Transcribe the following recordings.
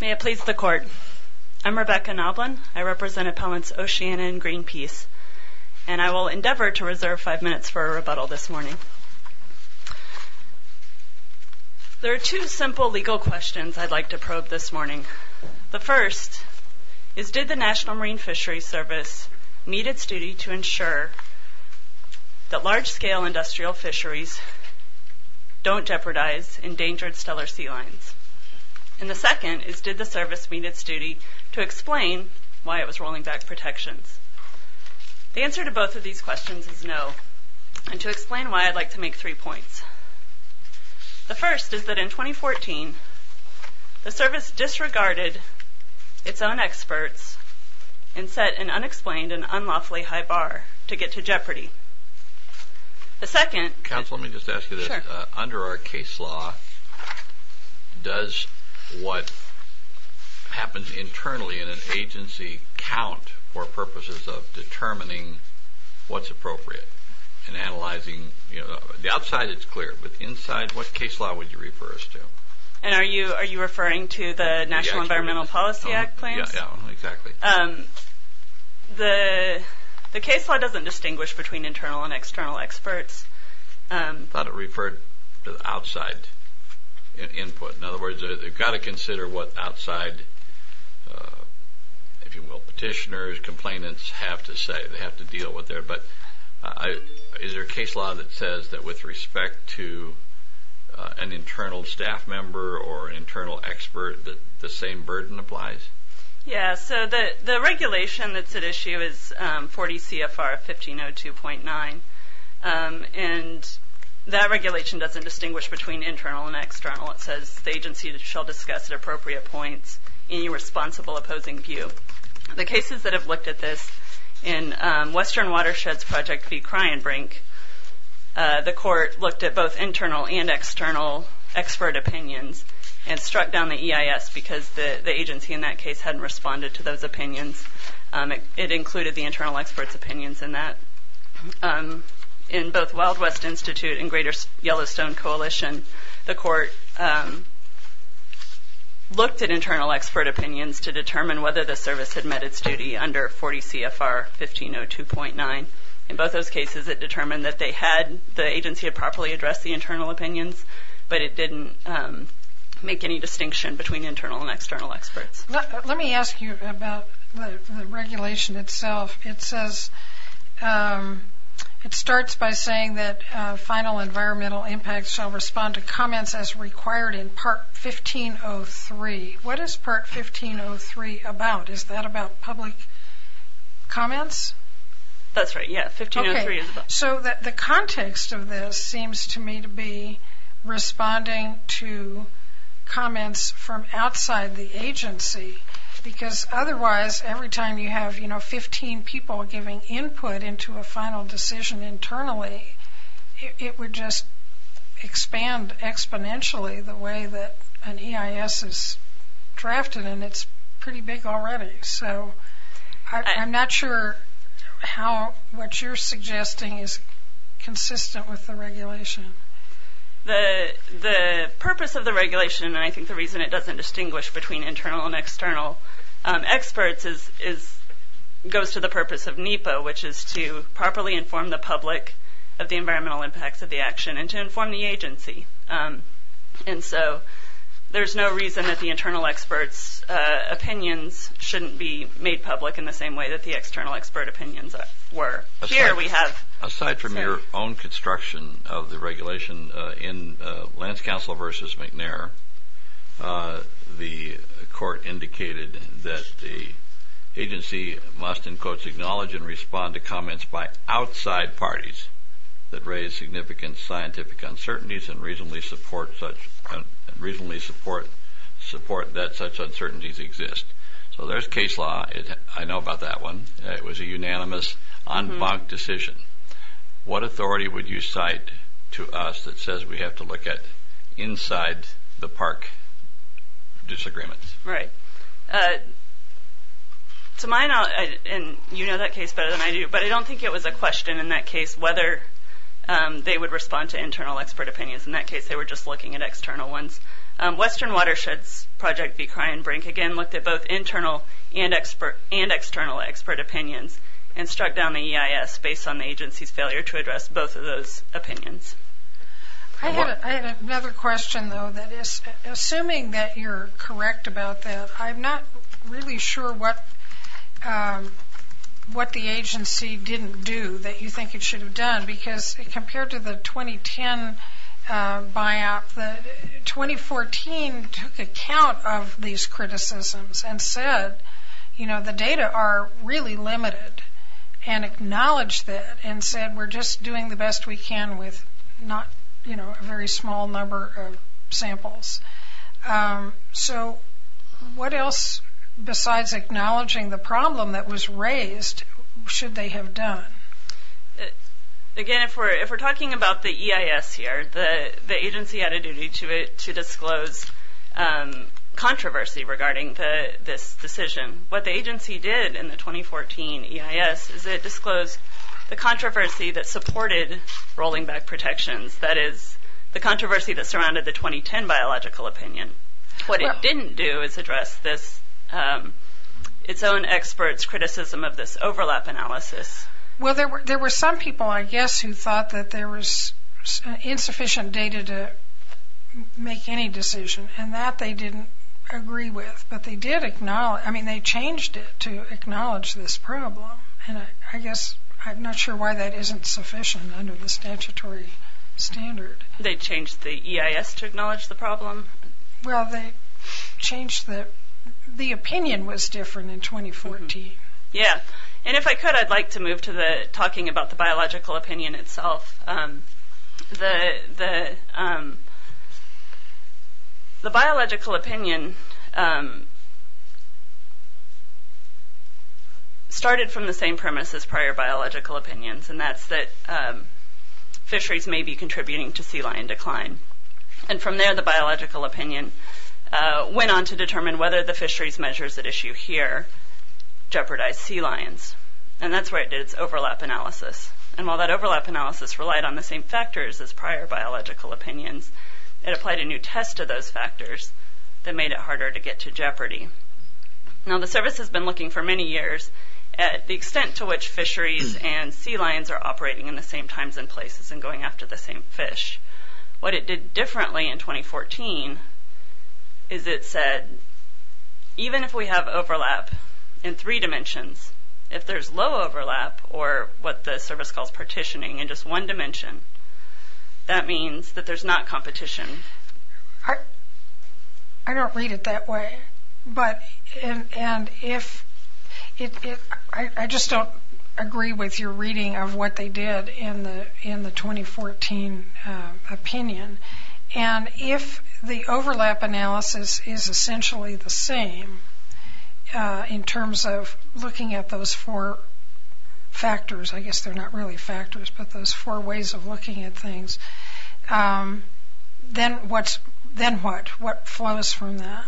May it please the Court. I'm Rebecca Knoblan. I represent Appellants Oceana and Greenpeace, and I will endeavor to reserve five minutes for a rebuttal this morning. There are two simple legal questions I'd like to probe this morning. The first is, did the National Marine Fisheries Service meet its duty to ensure that large-scale industrial fisheries don't jeopardize endangered stellar sea lines? And the second is, did the Service meet its duty to explain why it was rolling back protections? The answer to both of these questions is no, and to explain why, I'd like to make three points. The first is that in 2014, the Service disregarded its own experts and set an unexplained and unlawfully high bar to get to jeopardy. The second... Counsel, let me just ask you this. Sure. Under our case law, does what happens internally in an agency count for purposes of determining what's appropriate and analyzing... the outside is clear, but inside, what case law would you refer us to? And are you referring to the National Environmental Policy Act plans? Yeah, exactly. The case law doesn't distinguish between internal and external experts. I thought it referred to the outside input. In other words, they've got to consider what outside, if you will, petitioners, complainants have to say. They have to deal with their... But is there a case law that says that with respect to an internal staff member or an internal expert, the same burden applies? Yeah, so the regulation that's at issue is 40 CFR 1502.9, and that regulation doesn't distinguish between internal and external. It says the agency shall discuss at appropriate points any responsible opposing view. The cases that have looked at this in Western Watersheds Project v. Cryenbrink, the court looked at both internal and external expert opinions and struck down the EIS because the agency in that case hadn't responded to those opinions. It included the internal expert's opinions in that. In both Wild West Institute and Greater Yellowstone Coalition, the court looked at internal expert opinions to determine whether the service had met its duty under 40 CFR 1502.9. In both those cases, it determined that the agency had properly addressed the internal opinions, but it didn't make any distinction between internal and external experts. Let me ask you about the regulation itself. It says it starts by saying that final environmental impacts shall respond to comments as required in Part 1503. What is Part 1503 about? Is that about public comments? That's right, yeah. So the context of this seems to me to be responding to comments from outside the agency, because otherwise every time you have, you know, 15 people giving input into a final decision internally, it would just expand exponentially the way that an EIS is drafted, and it's pretty big already. So I'm not sure how what you're suggesting is consistent with the regulation. The purpose of the regulation, and I think the reason it doesn't distinguish between internal and external experts, goes to the purpose of NEPA, which is to properly inform the public of the environmental impacts of the action and to inform the agency. And so there's no reason that the internal experts' opinions shouldn't be made public in the same way that the external expert opinions were. Here we have... Aside from your own construction of the regulation in Lance Counsel v. McNair, acknowledge and respond to comments by outside parties that raise significant scientific uncertainties and reasonably support that such uncertainties exist. So there's case law. I know about that one. It was a unanimous, en banc decision. What authority would you cite to us that says we have to look at inside-the-park disagreements? Right. To my knowledge, and you know that case better than I do, but I don't think it was a question in that case whether they would respond to internal expert opinions. In that case, they were just looking at external ones. Western Watersheds Project v. Cryinbrink, again, looked at both internal and external expert opinions and struck down the EIS based on the agency's failure to address both of those opinions. I had another question, though. Assuming that you're correct about that, I'm not really sure what the agency didn't do that you think it should have done because compared to the 2010 buyout, 2014 took account of these criticisms and said the data are really limited and acknowledged that and said we're just doing the best we can with not a very small number of samples. So what else, besides acknowledging the problem that was raised, should they have done? Again, if we're talking about the EIS here, the agency had a duty to disclose controversy regarding this decision. What the agency did in the 2014 EIS is it disclosed the controversy that supported rolling back protections, that is, the controversy that surrounded the 2010 biological opinion. What it didn't do is address its own experts' criticism of this overlap analysis. Well, there were some people, I guess, who thought that there was insufficient data to make any decision, and that they didn't agree with. But they did acknowledge, I mean, they changed it to acknowledge this problem, and I guess I'm not sure why that isn't sufficient under the statutory standard. They changed the EIS to acknowledge the problem? Well, they changed the, the opinion was different in 2014. Yeah, and if I could, I'd like to move to the talking about the biological opinion itself. The biological opinion started from the same premise as prior biological opinions, and that's that fisheries may be contributing to sea lion decline. And from there, the biological opinion went on to determine whether the fisheries measures at issue here jeopardized sea lions. And that's where it did its overlap analysis. And while that overlap analysis relied on the same factors as prior biological opinions, it applied a new test to those factors that made it harder to get to jeopardy. Now, the service has been looking for many years at the extent to which fisheries and sea lions are operating in the same times and places and going after the same fish. What it did differently in 2014 is it said, even if we have overlap in three dimensions, if there's low overlap or what the service calls partitioning in just one dimension, that means that there's not competition. I don't read it that way. But, and if it, I just don't agree with your reading of what they did in the, in the 2014 opinion. And if the overlap analysis is essentially the same in terms of looking at those four factors, I guess they're not really factors, but those four ways of looking at things, then what's, then what, what flows from that?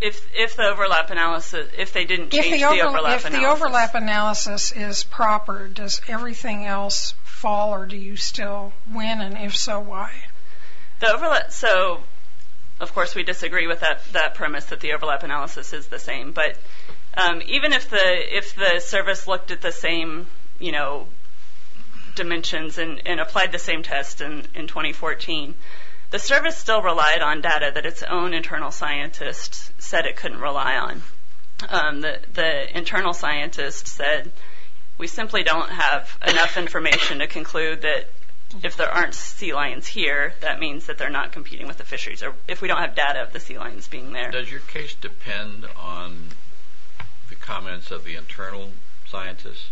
If the overlap analysis, if they didn't change the overlap analysis. If the overlap analysis is proper, does everything else fall or do you still win? And if so, why? The overlap, so of course we disagree with that premise that the overlap analysis is the same. But even if the, if the service looked at the same, you know, dimensions and applied the same test in 2014, the service still relied on data that its own internal scientist said it couldn't rely on. The internal scientist said, we simply don't have enough information to conclude that if there aren't sea lions here, that means that they're not competing with the fisheries, or if we don't have data of the sea lions being there. Does your case depend on the comments of the internal scientists?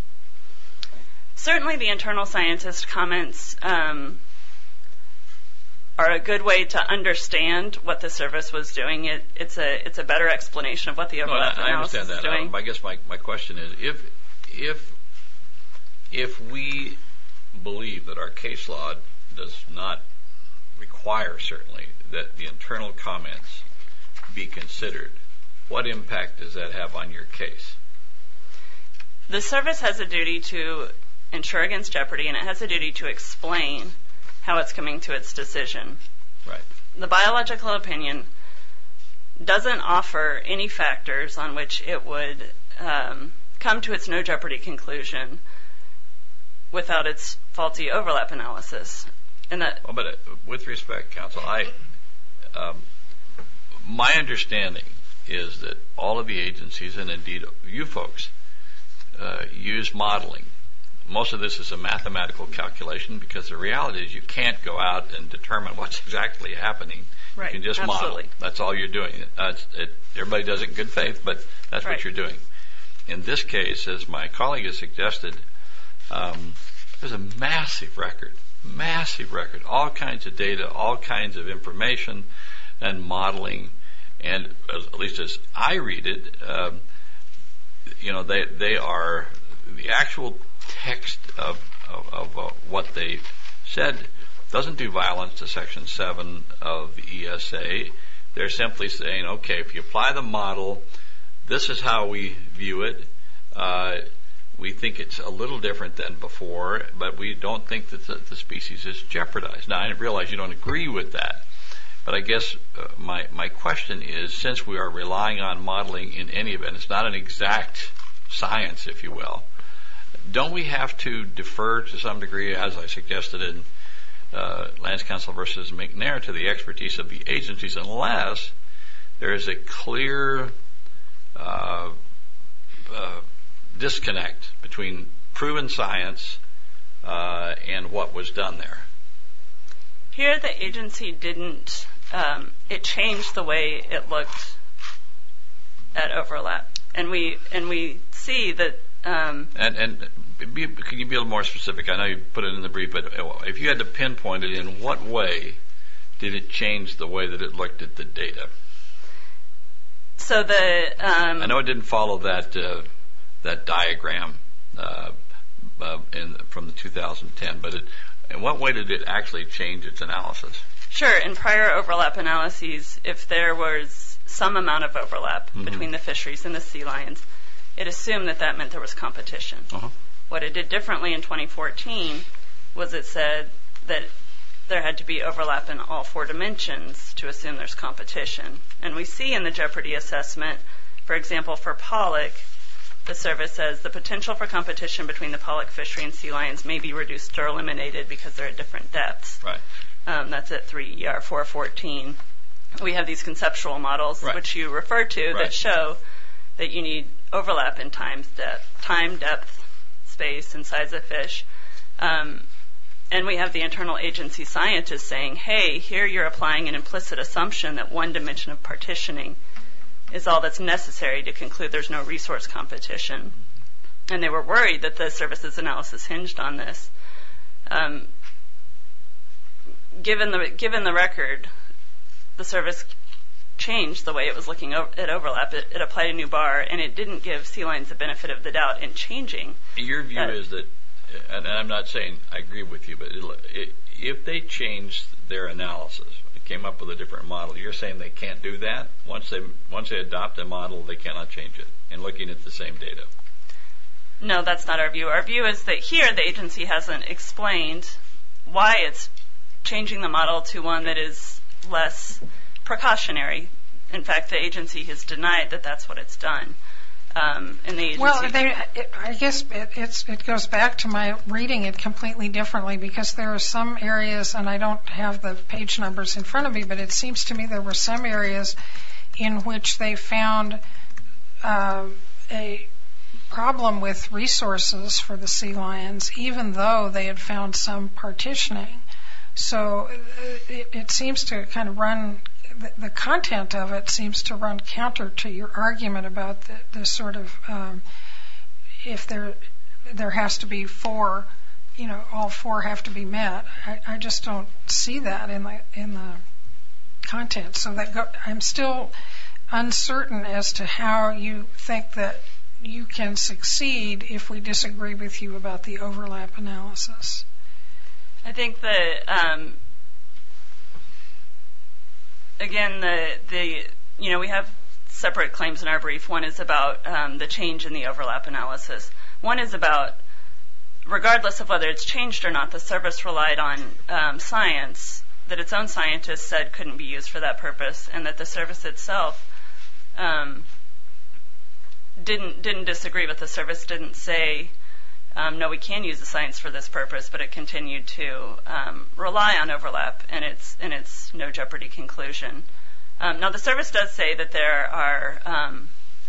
Certainly the internal scientist comments are a good way to understand what the service was doing. It's a, it's a better explanation of what the overlap analysis is doing. I guess my question is, if, if, if we believe that our case law does not require certainly that the internal comments be considered, what impact does that have on your case? The service has a duty to ensure against jeopardy and it has a duty to explain how it's coming to its decision. Right. The biological opinion doesn't offer any factors on which it would come to its no jeopardy conclusion without its faulty overlap analysis. With respect, counsel, I, my understanding is that all of the agencies, and indeed you folks, use modeling. Most of this is a mathematical calculation because the reality is you can't go out and determine what's exactly happening. Right, absolutely. You can just model it. That's all you're doing. Everybody does it in good faith, but that's what you're doing. Right. In this case, as my colleague has suggested, there's a massive record, massive record, all kinds of data, all kinds of information and modeling, and at least as I read it, they are, the actual text of what they said doesn't do violence to Section 7 of the ESA. They're simply saying, okay, if you apply the model, this is how we view it. We think it's a little different than before, but we don't think that the species is jeopardized. Now, I realize you don't agree with that, but I guess my question is, since we are relying on modeling in any event, it's not an exact science, if you will, don't we have to defer to some degree, as I suggested in Lance Counselor versus McNair, to the expertise of the agencies unless there is a clear disconnect between proven science and what was done there? Here the agency didn't, it changed the way it looked at overlap, and we see that. And can you be a little more specific? I know you put it in the brief, but if you had to pinpoint it, in what way did it change the way that it looked at the data? So the. I know it didn't follow that diagram from the 2010, but in what way did it actually change its analysis? Sure. In prior overlap analyses, if there was some amount of overlap between the fisheries and the sea lions, it assumed that that meant there was competition. What it did differently in 2014 was it said that there had to be overlap in all four dimensions to assume there's competition. And we see in the Jeopardy assessment, for example, for pollock, the survey says, the potential for competition between the pollock, fishery, and sea lions may be reduced or eliminated because they're at different depths. That's at 3ER414. We have these conceptual models which you refer to that show that you need overlap in time, depth, space, and size of fish. And we have the internal agency scientists saying, hey, here you're applying an implicit assumption that one dimension of partitioning is all that's necessary to conclude there's no resource competition. And they were worried that the services analysis hinged on this. Given the record, the service changed the way it was looking at overlap. It applied a new bar, and it didn't give sea lions the benefit of the doubt in changing. Your view is that, and I'm not saying I agree with you, but if they changed their analysis, came up with a different model, you're saying they can't do that? Once they adopt a model, they cannot change it in looking at the same data? No, that's not our view. Our view is that here the agency hasn't explained why it's changing the model to one that is less precautionary. In fact, the agency has denied that that's what it's done. Well, I guess it goes back to my reading it completely differently because there are some areas, and I don't have the page numbers in front of me, but it seems to me there were some areas in which they found a problem with resources for the sea lions even though they had found some partitioning. So it seems to kind of run, the content of it seems to run counter to your argument about the sort of if there has to be four, you know, all four have to be met. I just don't see that in the content. So I'm still uncertain as to how you think that you can succeed if we disagree with you about the overlap analysis. I think that, again, you know, we have separate claims in our brief. One is about the change in the overlap analysis. One is about regardless of whether it's changed or not, the service relied on science that its own scientists said couldn't be used for that purpose and that the service itself didn't disagree with the service, didn't say, no, we can use the science for this purpose, but it continued to rely on overlap in its no jeopardy conclusion. Now, the service does say that there are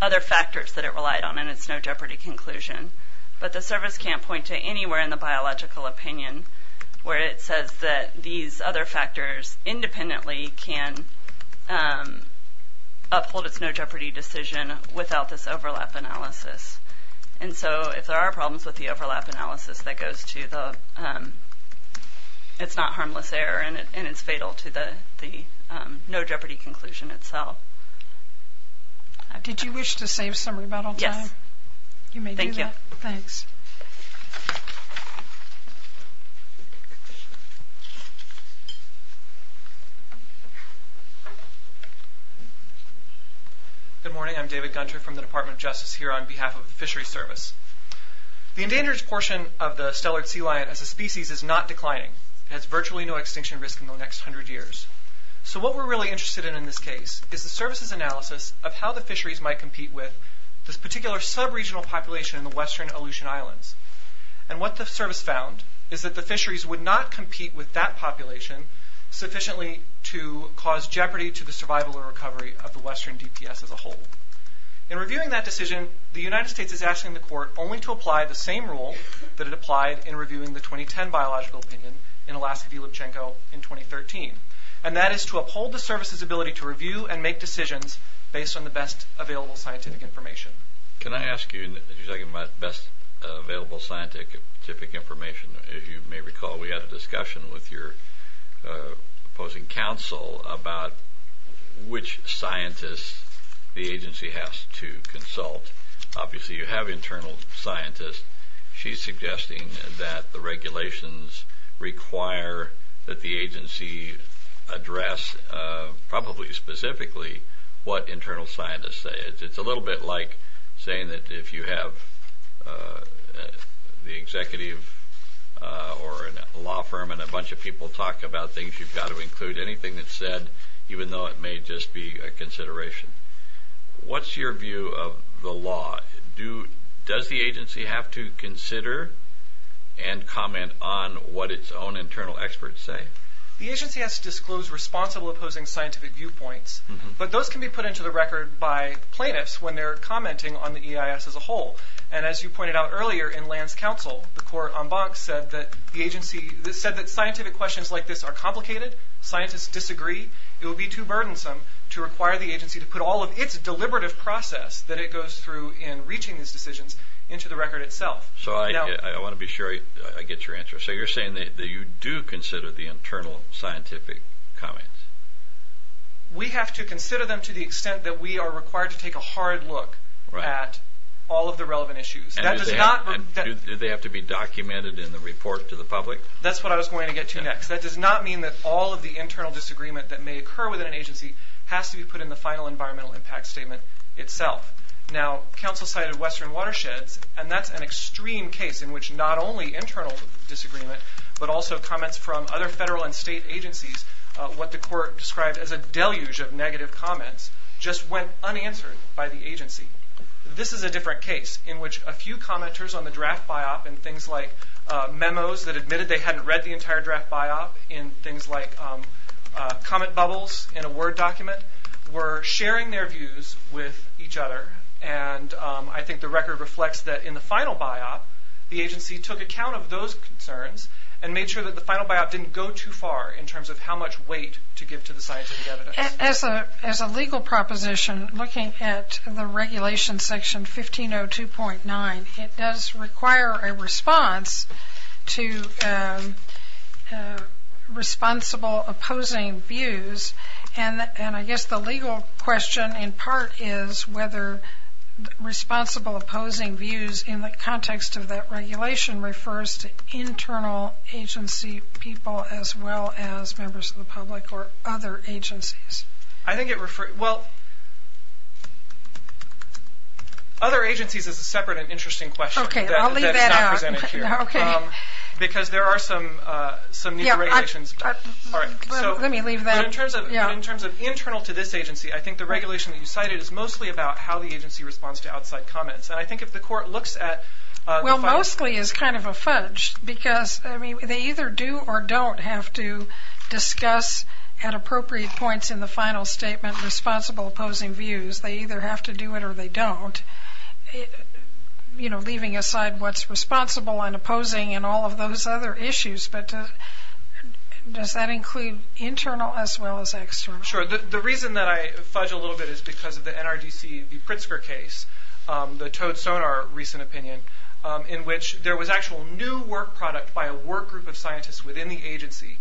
other factors that it relied on in its no jeopardy conclusion, but the service can't point to anywhere in the biological opinion where it says that these other factors independently can uphold its no jeopardy decision without this overlap analysis. And so if there are problems with the overlap analysis, that goes to the it's not harmless error and it's fatal to the no jeopardy conclusion itself. Did you wish to save some rebuttal time? Yes. You may do that. Thank you. Thanks. Good morning. I'm David Gunter from the Department of Justice here on behalf of the Fisheries Service. The endangered portion of the stellar sea lion as a species is not declining. It has virtually no extinction risk in the next hundred years. So what we're really interested in in this case is the service's analysis of how the fisheries might compete with this particular sub-regional population in the western Aleutian Islands. And what the service found is that the fisheries would not compete with that population sufficiently to cause jeopardy to the survival or recovery of the western DPS as a whole. In reviewing that decision, the United States is asking the court only to apply the same rule that it applied in reviewing the 2010 biological opinion in Alaska v. Lipchenko in 2013. And that is to uphold the service's ability to review and make decisions based on the best available scientific information. Can I ask you, as you're talking about best available scientific information, if you may recall we had a discussion with your opposing counsel about which scientists the agency has to consult. Obviously you have internal scientists. She's suggesting that the regulations require that the agency address, probably specifically, what internal scientists say. It's a little bit like saying that if you have the executive or a law firm and a bunch of people talk about things, you've got to include anything that's said, even though it may just be a consideration. What's your view of the law? Does the agency have to consider and comment on what its own internal experts say? The agency has to disclose responsible opposing scientific viewpoints, but those can be put into the record by plaintiffs when they're commenting on the EIS as a whole. And as you pointed out earlier in Land's counsel, the court en banc said that scientific questions like this are complicated, scientists disagree. It would be too burdensome to require the agency to put all of its deliberative process that it goes through in reaching these decisions into the record itself. I want to be sure I get your answer. So you're saying that you do consider the internal scientific comments? We have to consider them to the extent that we are required to take a hard look at all of the relevant issues. Do they have to be documented in the report to the public? That's what I was going to get to next. That does not mean that all of the internal disagreement that may occur within an agency has to be put in the final environmental impact statement itself. Now, counsel cited Western Watersheds, and that's an extreme case in which not only internal disagreement, but also comments from other federal and state agencies, what the court described as a deluge of negative comments, just went unanswered by the agency. This is a different case in which a few commenters on the draft biop, in things like memos that admitted they hadn't read the entire draft biop, in things like comment bubbles in a Word document, were sharing their views with each other, and I think the record reflects that in the final biop, the agency took account of those concerns and made sure that the final biop didn't go too far in terms of how much weight to give to the scientific evidence. As a legal proposition, looking at the regulation section 1502.9, it does require a response to responsible opposing views, and I guess the legal question in part is whether responsible opposing views in the context of that regulation refers to internal agency people as well as members of the public or other agencies. I think it refers, well, other agencies is a separate and interesting question. Okay, I'll leave that out. That is not presented here. Okay. Because there are some, some negotiations. Yeah, let me leave that. In terms of, in terms of internal to this agency, I think the regulation that you cited is mostly about how the agency responds to outside comments, and I think if the court looks at. Well, mostly is kind of a fudge because, I mean, they either do or don't have to discuss at appropriate points in the final statement responsible opposing views. They either have to do it or they don't, you know, leaving aside what's responsible and opposing and all of those other issues. But does that include internal as well as external? Sure. The reason that I fudge a little bit is because of the NRDC, the Pritzker case, the Toad Sonar recent opinion in which there was actual new work product by a work group of scientists within the agency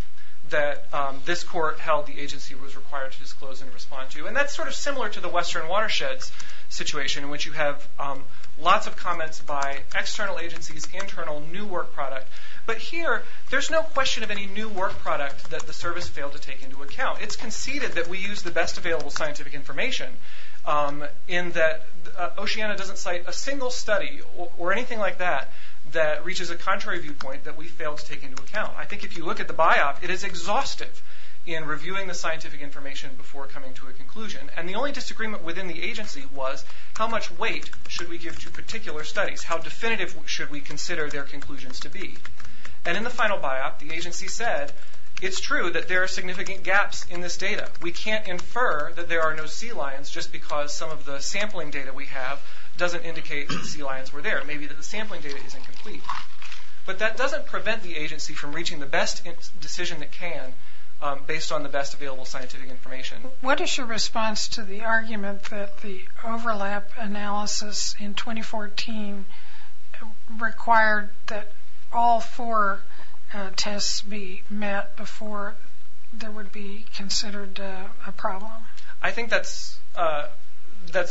that this court held the agency was required to disclose and respond to. And that's sort of similar to the Western Watersheds situation in which you have lots of comments by external agencies, internal new work product. But here there's no question of any new work product that the service failed to take into account. It's conceded that we use the best available scientific information in that Oceana doesn't cite a single study or anything like that that reaches a contrary viewpoint that we failed to take into account. I think if you look at the biop, it is exhaustive in reviewing the scientific information before coming to a conclusion. And the only disagreement within the agency was how much weight should we give to particular studies? How definitive should we consider their conclusions to be? And in the final biop, the agency said, it's true that there are significant gaps in this data. We can't infer that there are no sea lions just because some of the sampling data we have doesn't indicate sea lions were there. Maybe the sampling data is incomplete. But that doesn't prevent the agency from reaching the best decision it can based on the best available scientific information. What is your response to the argument that the overlap analysis in 2014 required that all four tests be met before they would be considered a problem? I think that's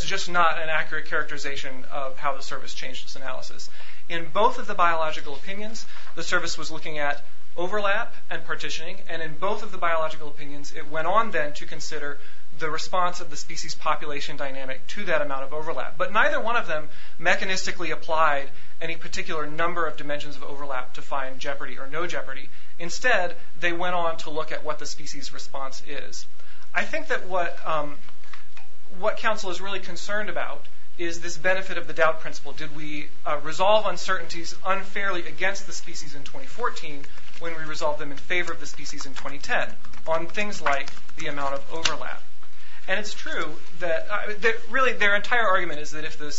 just not an accurate characterization of how the service changed its analysis. In both of the biological opinions, the service was looking at overlap and partitioning. And in both of the biological opinions, it went on then to consider the response of the species population dynamic to that amount of overlap. But neither one of them mechanistically applied any particular number of dimensions of overlap to find jeopardy or no jeopardy. Instead, they went on to look at what the species response is. I think that what council is really concerned about is this benefit of the doubt principle. Did we resolve uncertainties unfairly against the species in 2014 when we resolved them in favor of the species in 2010 on things like the amount of overlap? And it's true that really their entire argument is that if the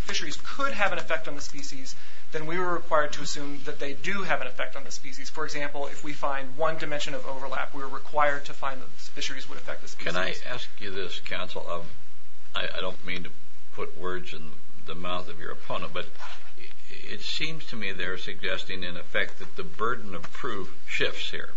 fisheries could have an effect on the species, then we were required to assume that they do have an effect on the species. For example, if we find one dimension of overlap, we were required to find that the fisheries would affect the species. Can I ask you this, counsel? I don't mean to put words in the mouth of your opponent, but it seems to me they're suggesting, in effect, that the burden of proof shifts here.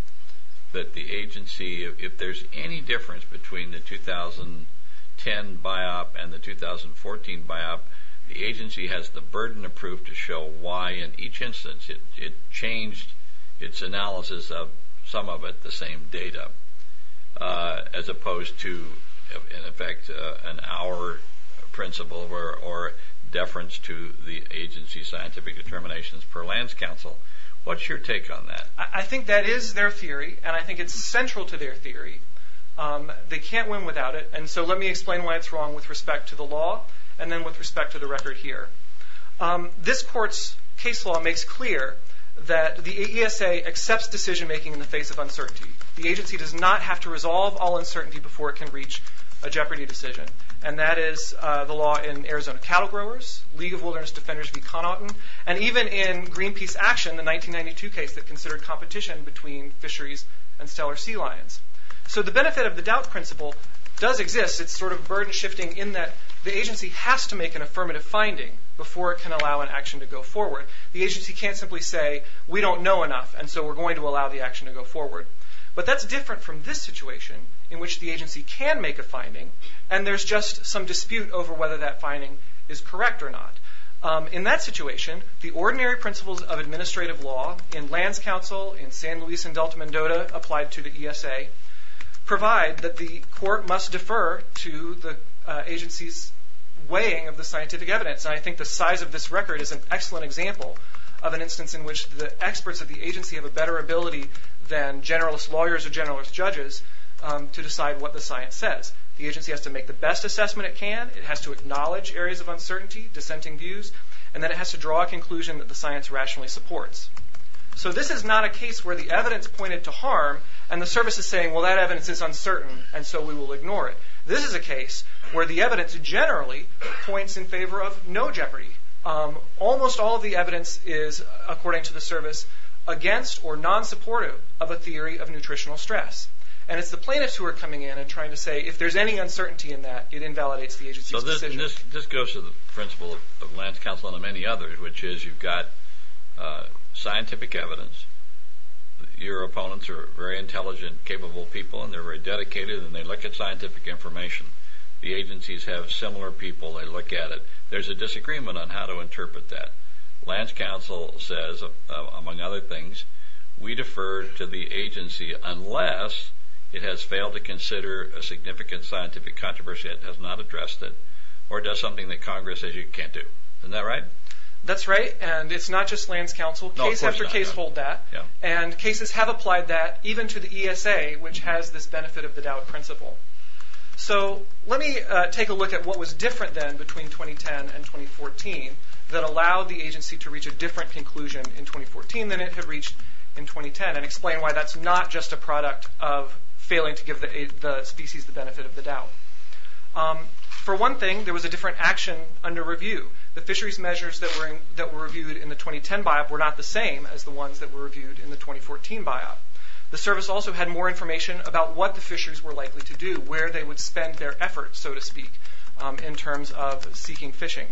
That the agency, if there's any difference between the 2010 biop and the 2014 biop, the agency has the burden of proof to show why in each instance it changed its analysis of some of it, the same data. As opposed to, in effect, an hour principle or deference to the agency's scientific determinations per lands council. What's your take on that? I think that is their theory, and I think it's central to their theory. They can't win without it, and so let me explain why it's wrong with respect to the law and then with respect to the record here. This court's case law makes clear that the AESA accepts decision making in the face of uncertainty. The agency does not have to resolve all uncertainty before it can reach a jeopardy decision. And that is the law in Arizona Cattle Growers, League of Wilderness Defenders v. Connaughton, and even in Greenpeace Action, the 1992 case that considered competition between fisheries and stellar sea lions. So the benefit of the doubt principle does exist. It's sort of a burden shifting in that the agency has to make an affirmative finding before it can allow an action to go forward. The agency can't simply say, we don't know enough, and so we're going to allow the action to go forward. But that's different from this situation, in which the agency can make a finding, and there's just some dispute over whether that finding is correct or not. In that situation, the ordinary principles of administrative law in lands council, in San Luis and Delta Mendota, applied to the ESA, provide that the court must defer to the agency's weighing of the scientific evidence. And I think the size of this record is an excellent example of an instance in which the experts at the agency have a better ability than generalist lawyers or generalist judges to decide what the science says. The agency has to make the best assessment it can. It has to acknowledge areas of uncertainty, dissenting views, and then it has to draw a conclusion that the science rationally supports. So this is not a case where the evidence pointed to harm, and the service is saying, well, that evidence is uncertain, and so we will ignore it. This is a case where the evidence generally points in favor of no jeopardy. Almost all of the evidence is, according to the service, against or non-supportive of a theory of nutritional stress. And it's the plaintiffs who are coming in and trying to say, if there's any uncertainty in that, it invalidates the agency's decision. So this goes to the principle of lands council and of many others, which is you've got scientific evidence. Your opponents are very intelligent, capable people, and they're very dedicated, and they look at scientific information. The agencies have similar people. They look at it. There's a disagreement on how to interpret that. Lands council says, among other things, we defer to the agency unless it has failed to consider a significant scientific controversy that has not addressed it or does something that Congress says you can't do. Isn't that right? That's right, and it's not just lands council. Case after case hold that, and cases have applied that even to the ESA, which has this benefit of the doubt principle. So let me take a look at what was different then between 2010 and 2014 that allowed the agency to reach a different conclusion in 2014 than it had reached in 2010 and explain why that's not just a product of failing to give the species the benefit of the doubt. For one thing, there was a different action under review. The fisheries measures that were reviewed in the 2010 biop were not the same as the ones that were reviewed in the 2014 biop. The service also had more information about what the fisheries were likely to do, where they would spend their efforts, so to speak, in terms of seeking fishing.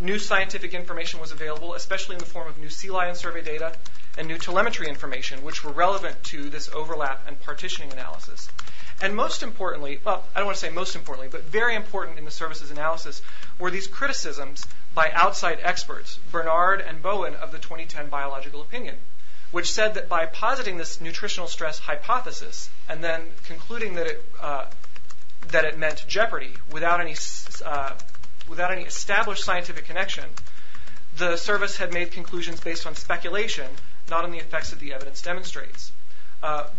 New scientific information was available, especially in the form of new sea lion survey data and new telemetry information, which were relevant to this overlap and partitioning analysis. And most importantly, well, I don't want to say most importantly, but very important in the service's analysis were these criticisms by outside experts, Bernard and Bowen of the 2010 biological opinion, which said that by positing this nutritional stress hypothesis and then concluding that it meant jeopardy without any established scientific connection, the service had made conclusions based on speculation, not on the effects that the evidence demonstrates.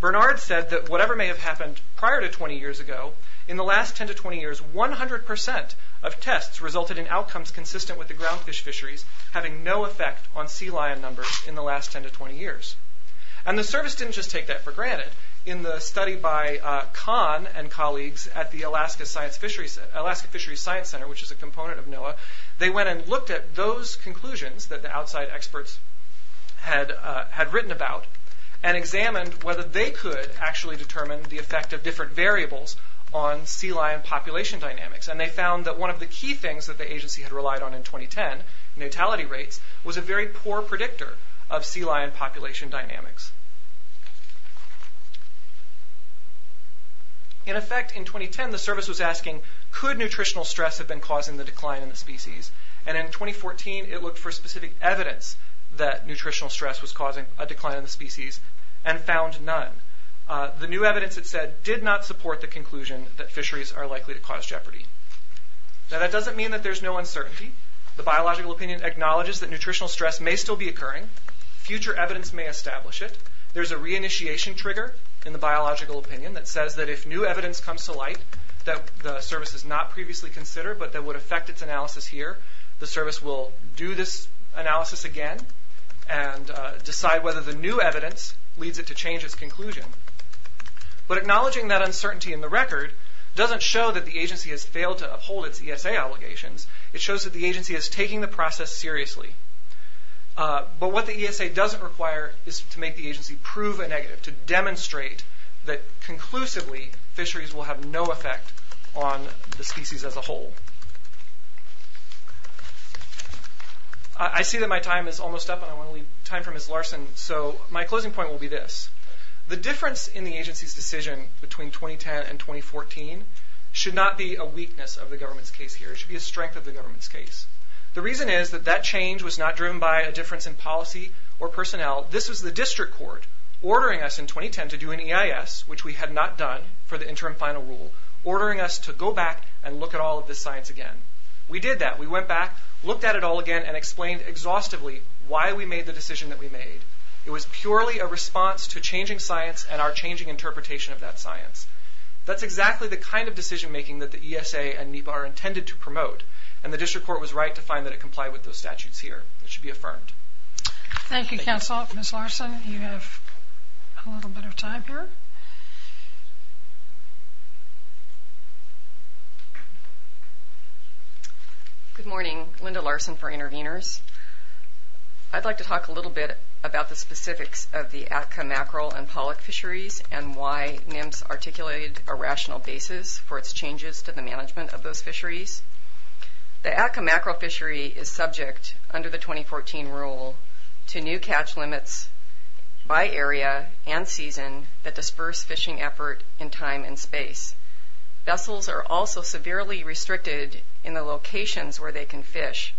Bernard said that whatever may have happened prior to 20 years ago, in the last 10 to 20 years, 100% of tests resulted in outcomes consistent with the ground fish fisheries, having no effect on sea lion numbers in the last 10 to 20 years. And the service didn't just take that for granted. In the study by Kahn and colleagues at the Alaska Fisheries Science Center, which is a component of NOAA, they went and looked at those conclusions that the outside experts had written about and examined whether they could actually determine the effect of different variables on sea lion population dynamics. And they found that one of the key things that the agency had relied on in 2010, notality rates, was a very poor predictor of sea lion population dynamics. In effect, in 2010, the service was asking, could nutritional stress have been causing the decline in the species? And in 2014, it looked for specific evidence that nutritional stress was causing a decline in the species and found none. The new evidence, it said, did not support the conclusion that fisheries are likely to cause jeopardy. Now that doesn't mean that there's no uncertainty. The biological opinion acknowledges that nutritional stress may still be occurring. Future evidence may establish it. There's a reinitiation trigger in the biological opinion that says that if new evidence comes to light that the service has not previously considered but that would affect its analysis here, the service will do this analysis again and decide whether the new evidence leads it to change its conclusion. But acknowledging that uncertainty in the record doesn't show that the agency has failed to uphold its ESA obligations. It shows that the agency is taking the process seriously. But what the ESA doesn't require is to make the agency prove a negative, to demonstrate that conclusively fisheries will have no effect on the species as a whole. I see that my time is almost up and I want to leave time for Ms. Larson, so my closing point will be this. The difference in the agency's decision between 2010 and 2014 should not be a weakness of the government's case here. The reason is that that change was not driven by a difference in policy or personnel. This was the district court ordering us in 2010 to do an EIS, which we had not done for the interim final rule, ordering us to go back and look at all of this science again. We did that. We went back, looked at it all again, and explained exhaustively why we made the decision that we made. It was purely a response to changing science and our changing interpretation of that science. That's exactly the kind of decision making that the ESA and NEPA are intended to promote. And the district court was right to find that it complied with those statutes here. It should be affirmed. Thank you, counsel. Ms. Larson, you have a little bit of time here. Good morning. Linda Larson for Intervenors. I'd like to talk a little bit about the specifics of the Atka mackerel and pollock fisheries and why NIMS articulated a rational basis for its changes to the management of those fisheries. The Atka mackerel fishery is subject, under the 2014 rule, to new catch limits by area and season that disperse fishing effort in time and space. Vessels are also severely restricted in the locations where they can fish.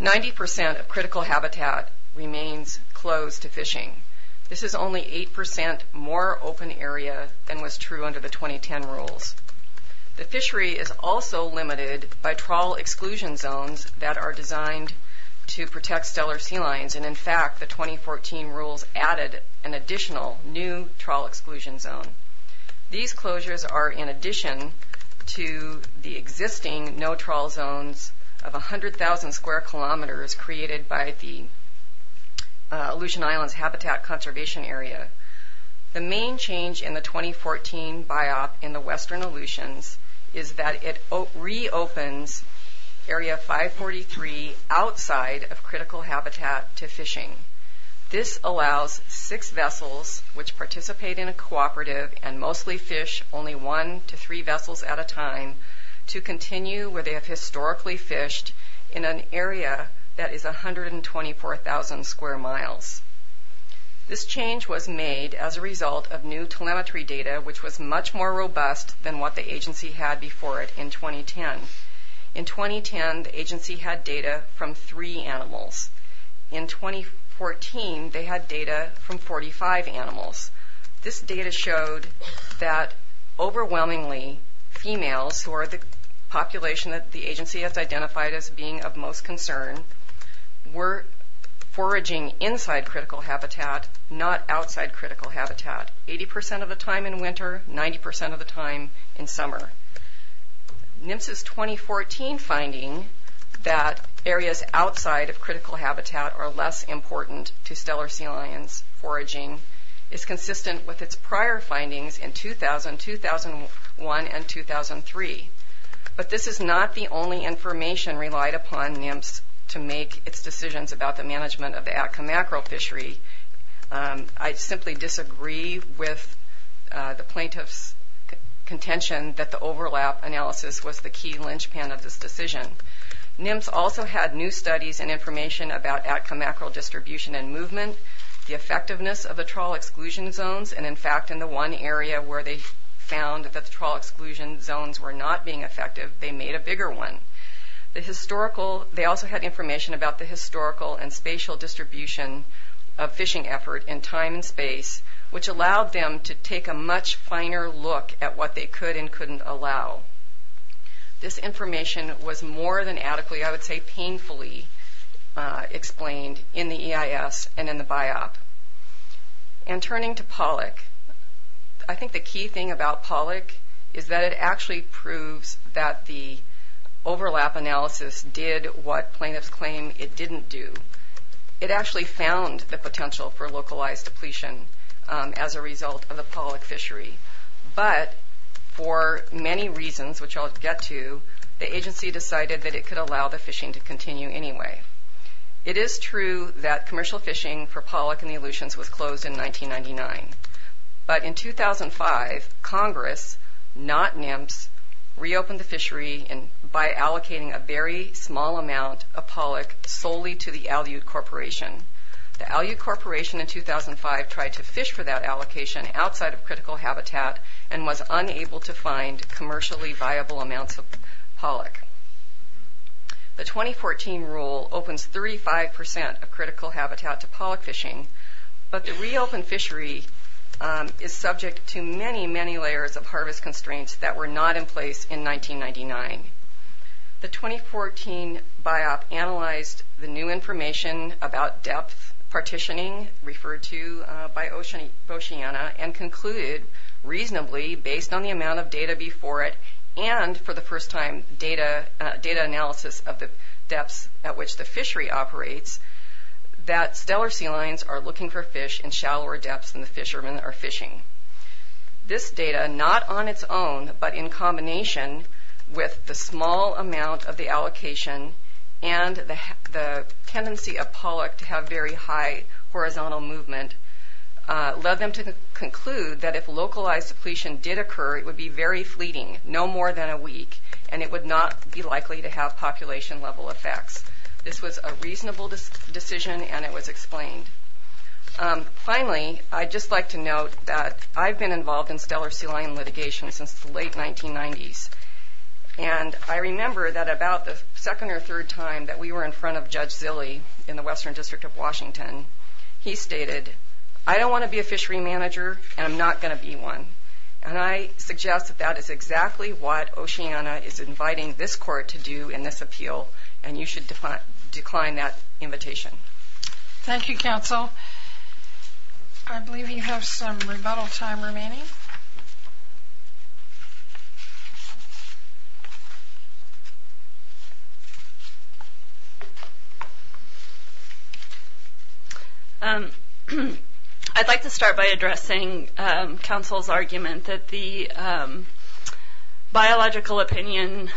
90% of critical habitat remains closed to fishing. This is only 8% more open area than was true under the 2010 rules. The fishery is also limited by trawl exclusion zones that are designed to protect stellar sea lions. And, in fact, the 2014 rules added an additional new trawl exclusion zone. These closures are in addition to the existing no trawl zones of 100,000 square kilometers created by the Aleutian Islands Habitat Conservation Area. The main change in the 2014 BIOP in the western Aleutians is that it reopens Area 543 outside of critical habitat to fishing. This allows six vessels, which participate in a cooperative and mostly fish only one to three vessels at a time, to continue where they have historically fished in an area that is 124,000 square miles. This change was made as a result of new telemetry data, which was much more robust than what the agency had before it in 2010. In 2010, the agency had data from three animals. In 2014, they had data from 45 animals. This data showed that overwhelmingly females, who are the population that the agency has identified as being of most concern, were foraging inside critical habitat, not outside critical habitat, 80% of the time in winter, 90% of the time in summer. NIMS's 2014 finding that areas outside of critical habitat are less important to stellar sea lions foraging is consistent with its prior findings in 2000, 2001, and 2003. But this is not the only information relied upon NIMS to make its decisions about the management of the Atka mackerel fishery. I simply disagree with the plaintiff's contention that the overlap analysis was the key linchpin of this decision. NIMS also had new studies and information about Atka mackerel distribution and movement, the effectiveness of the trawl exclusion zones, and in fact in the one area where they found that the trawl exclusion zones were not being effective, they made a bigger one. They also had information about the historical and spatial distribution of fishing effort in time and space, which allowed them to take a much finer look at what they could and couldn't allow. This information was more than adequately, I would say painfully, explained in the EIS and in the Biop. And turning to Pollock, I think the key thing about Pollock is that it actually proves that the overlap analysis did what plaintiffs claim it didn't do. It actually found the potential for localized depletion as a result of the Pollock fishery. But for many reasons, which I'll get to, the agency decided that it could allow the fishing to continue anyway. It is true that commercial fishing for Pollock and the Aleutians was closed in 1999. But in 2005, Congress, not NIMS, reopened the fishery by allocating a very small amount of Pollock solely to the Aleut Corporation. The Aleut Corporation in 2005 tried to fish for that allocation outside of critical habitat and was unable to find commercially viable amounts of Pollock. The 2014 rule opens 35% of critical habitat to Pollock fishing, but the reopened fishery is subject to many, many layers of harvest constraints that were not in place in 1999. The 2014 Biop analyzed the new information about depth partitioning, referred to by Oceana, and concluded reasonably, based on the amount of data before it, and for the first time, data analysis of the depths at which the fishery operates, that stellar sea lions are looking for fish in shallower depths than the fishermen are fishing. This data, not on its own, but in combination with the small amount of the allocation and the tendency of Pollock to have very high horizontal movement, led them to conclude that if localized depletion did occur, it would be very fleeting, no more than a week, and it would not be likely to have population level effects. This was a reasonable decision, and it was explained. Finally, I'd just like to note that I've been involved in stellar sea lion litigation since the late 1990s, and I remember that about the second or third time that we were in front of Judge Zille in the Western District of Washington, he stated, I don't want to be a fishery manager, and I'm not going to be one. And I suggest that that is exactly what Oceana is inviting this court to do in this appeal, and you should decline that invitation. Thank you, Counsel. I believe we have some rebuttal time remaining. I'd like to start by addressing Counsel's argument that the biological opinion,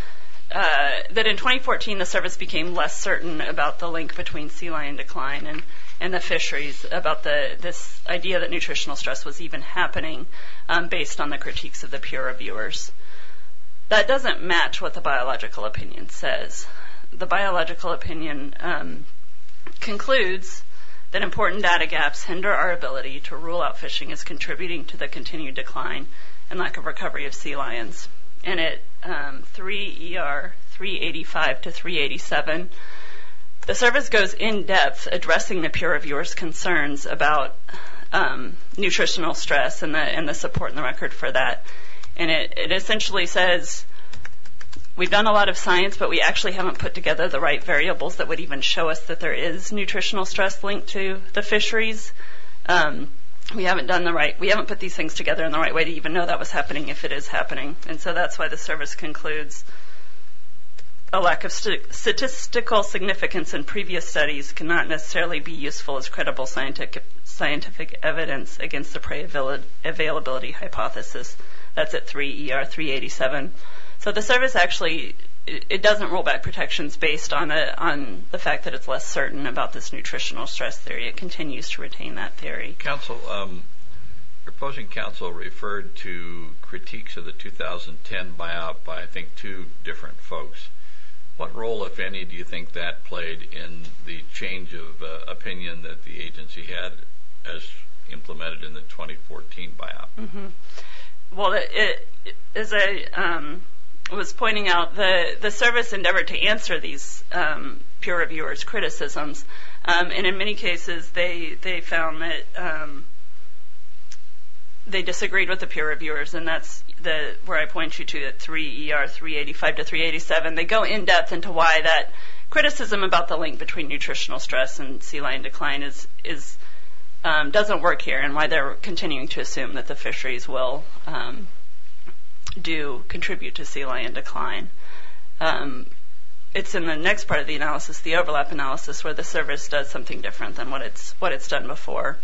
that in 2014 the service became less certain about the link between sea lion decline and the fisheries, about this idea that nutritional stress was even happening, based on the critiques of the peer reviewers. That doesn't match what the biological opinion says. The biological opinion concludes that important data gaps hinder our ability to rule out fishing as contributing to the continued decline and lack of recovery of sea lions. And at 3 ER 385 to 387, the service goes in depth addressing the peer reviewers' concerns about nutritional stress and the support in the record for that. And it essentially says we've done a lot of science, but we actually haven't put together the right variables that would even show us that there is nutritional stress linked to the fisheries. We haven't done the right, we haven't put these things together in the right way to even know that was happening, if it is happening. And so that's why the service concludes a lack of statistical significance in previous studies cannot necessarily be useful as credible scientific evidence against the availability hypothesis. That's at 3 ER 387. So the service actually, it doesn't roll back protections based on the fact that it's less certain about this nutritional stress theory. It continues to retain that theory. Counsel, proposing counsel referred to critiques of the 2010 BIOP by, I think, two different folks. What role, if any, do you think that played in the change of opinion that the agency had as implemented in the 2014 BIOP? Well, as I was pointing out, the service endeavored to answer these peer reviewers' criticisms. And in many cases, they found that they disagreed with the peer reviewers, and that's where I point you to at 3 ER 385 to 387. They go in-depth into why that criticism about the link between nutritional stress and sea lion decline doesn't work here, and why they're continuing to assume that the fisheries will do, contribute to sea lion decline. It's in the next part of the analysis, the overlap analysis, where the service does something different than what it's done before.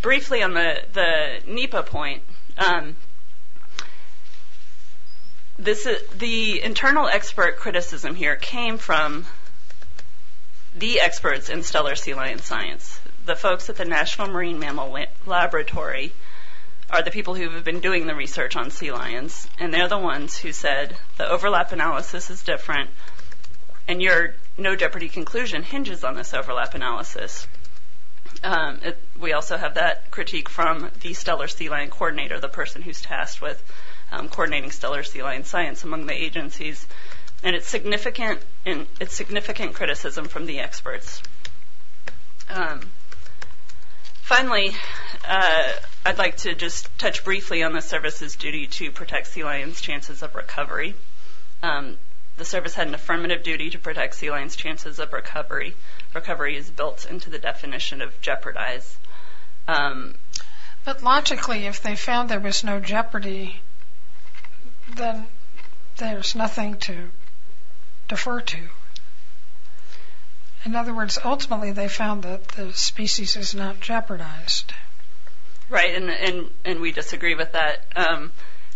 Briefly on the NEPA point, the internal expert criticism here came from the experts in stellar sea lion science. The folks at the National Marine Mammal Laboratory are the people who have been doing the research on sea lions, and they're the ones who said the overlap analysis is different, and your no jeopardy conclusion hinges on this overlap analysis. We also have that critique from the stellar sea lion coordinator, the person who's tasked with coordinating stellar sea lion science among the agencies. And it's significant criticism from the experts. Finally, I'd like to just touch briefly on the service's duty to protect sea lions' chances of recovery. The service had an affirmative duty to protect sea lions' chances of recovery. Recovery is built into the definition of jeopardize. But logically, if they found there was no jeopardy, then there's nothing to defer to. In other words, ultimately they found that the species is not jeopardized. Right, and we disagree with that.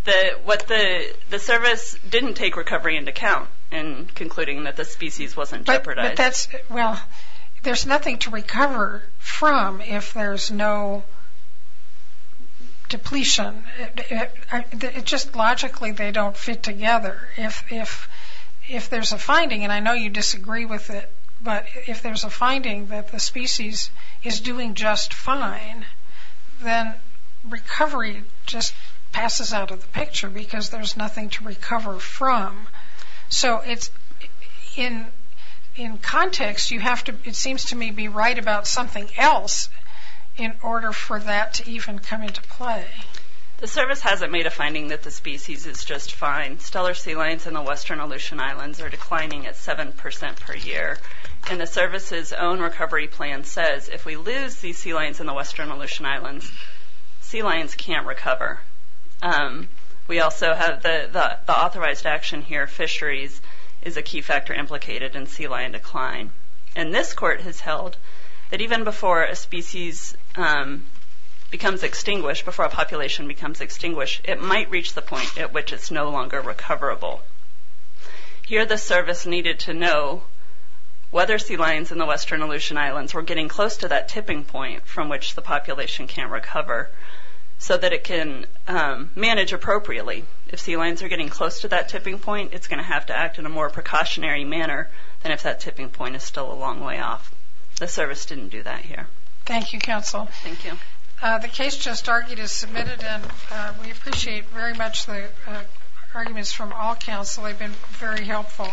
The service didn't take recovery into account in concluding that the species wasn't jeopardized. Well, there's nothing to recover from if there's no depletion. It's just logically they don't fit together. If there's a finding, and I know you disagree with it, but if there's a finding that the species is doing just fine, then recovery just passes out of the picture because there's nothing to recover from. So in context, it seems to me to be right about something else in order for that to even come into play. The service hasn't made a finding that the species is just fine. Stellar sea lions in the western Aleutian Islands are declining at 7% per year. And the service's own recovery plan says if we lose these sea lions in the western Aleutian Islands, sea lions can't recover. We also have the authorized action here, fisheries, is a key factor implicated in sea lion decline. And this court has held that even before a species becomes extinguished, before a population becomes extinguished, it might reach the point at which it's no longer recoverable. Here the service needed to know whether sea lions in the western Aleutian Islands were getting close to that tipping point from which the population can't recover so that it can manage appropriately. If sea lions are getting close to that tipping point, it's going to have to act in a more precautionary manner than if that tipping point is still a long way off. The service didn't do that here. Thank you, Counsel. Thank you. The case just argued is submitted, and we appreciate very much the arguments from all counsel. They've been very helpful.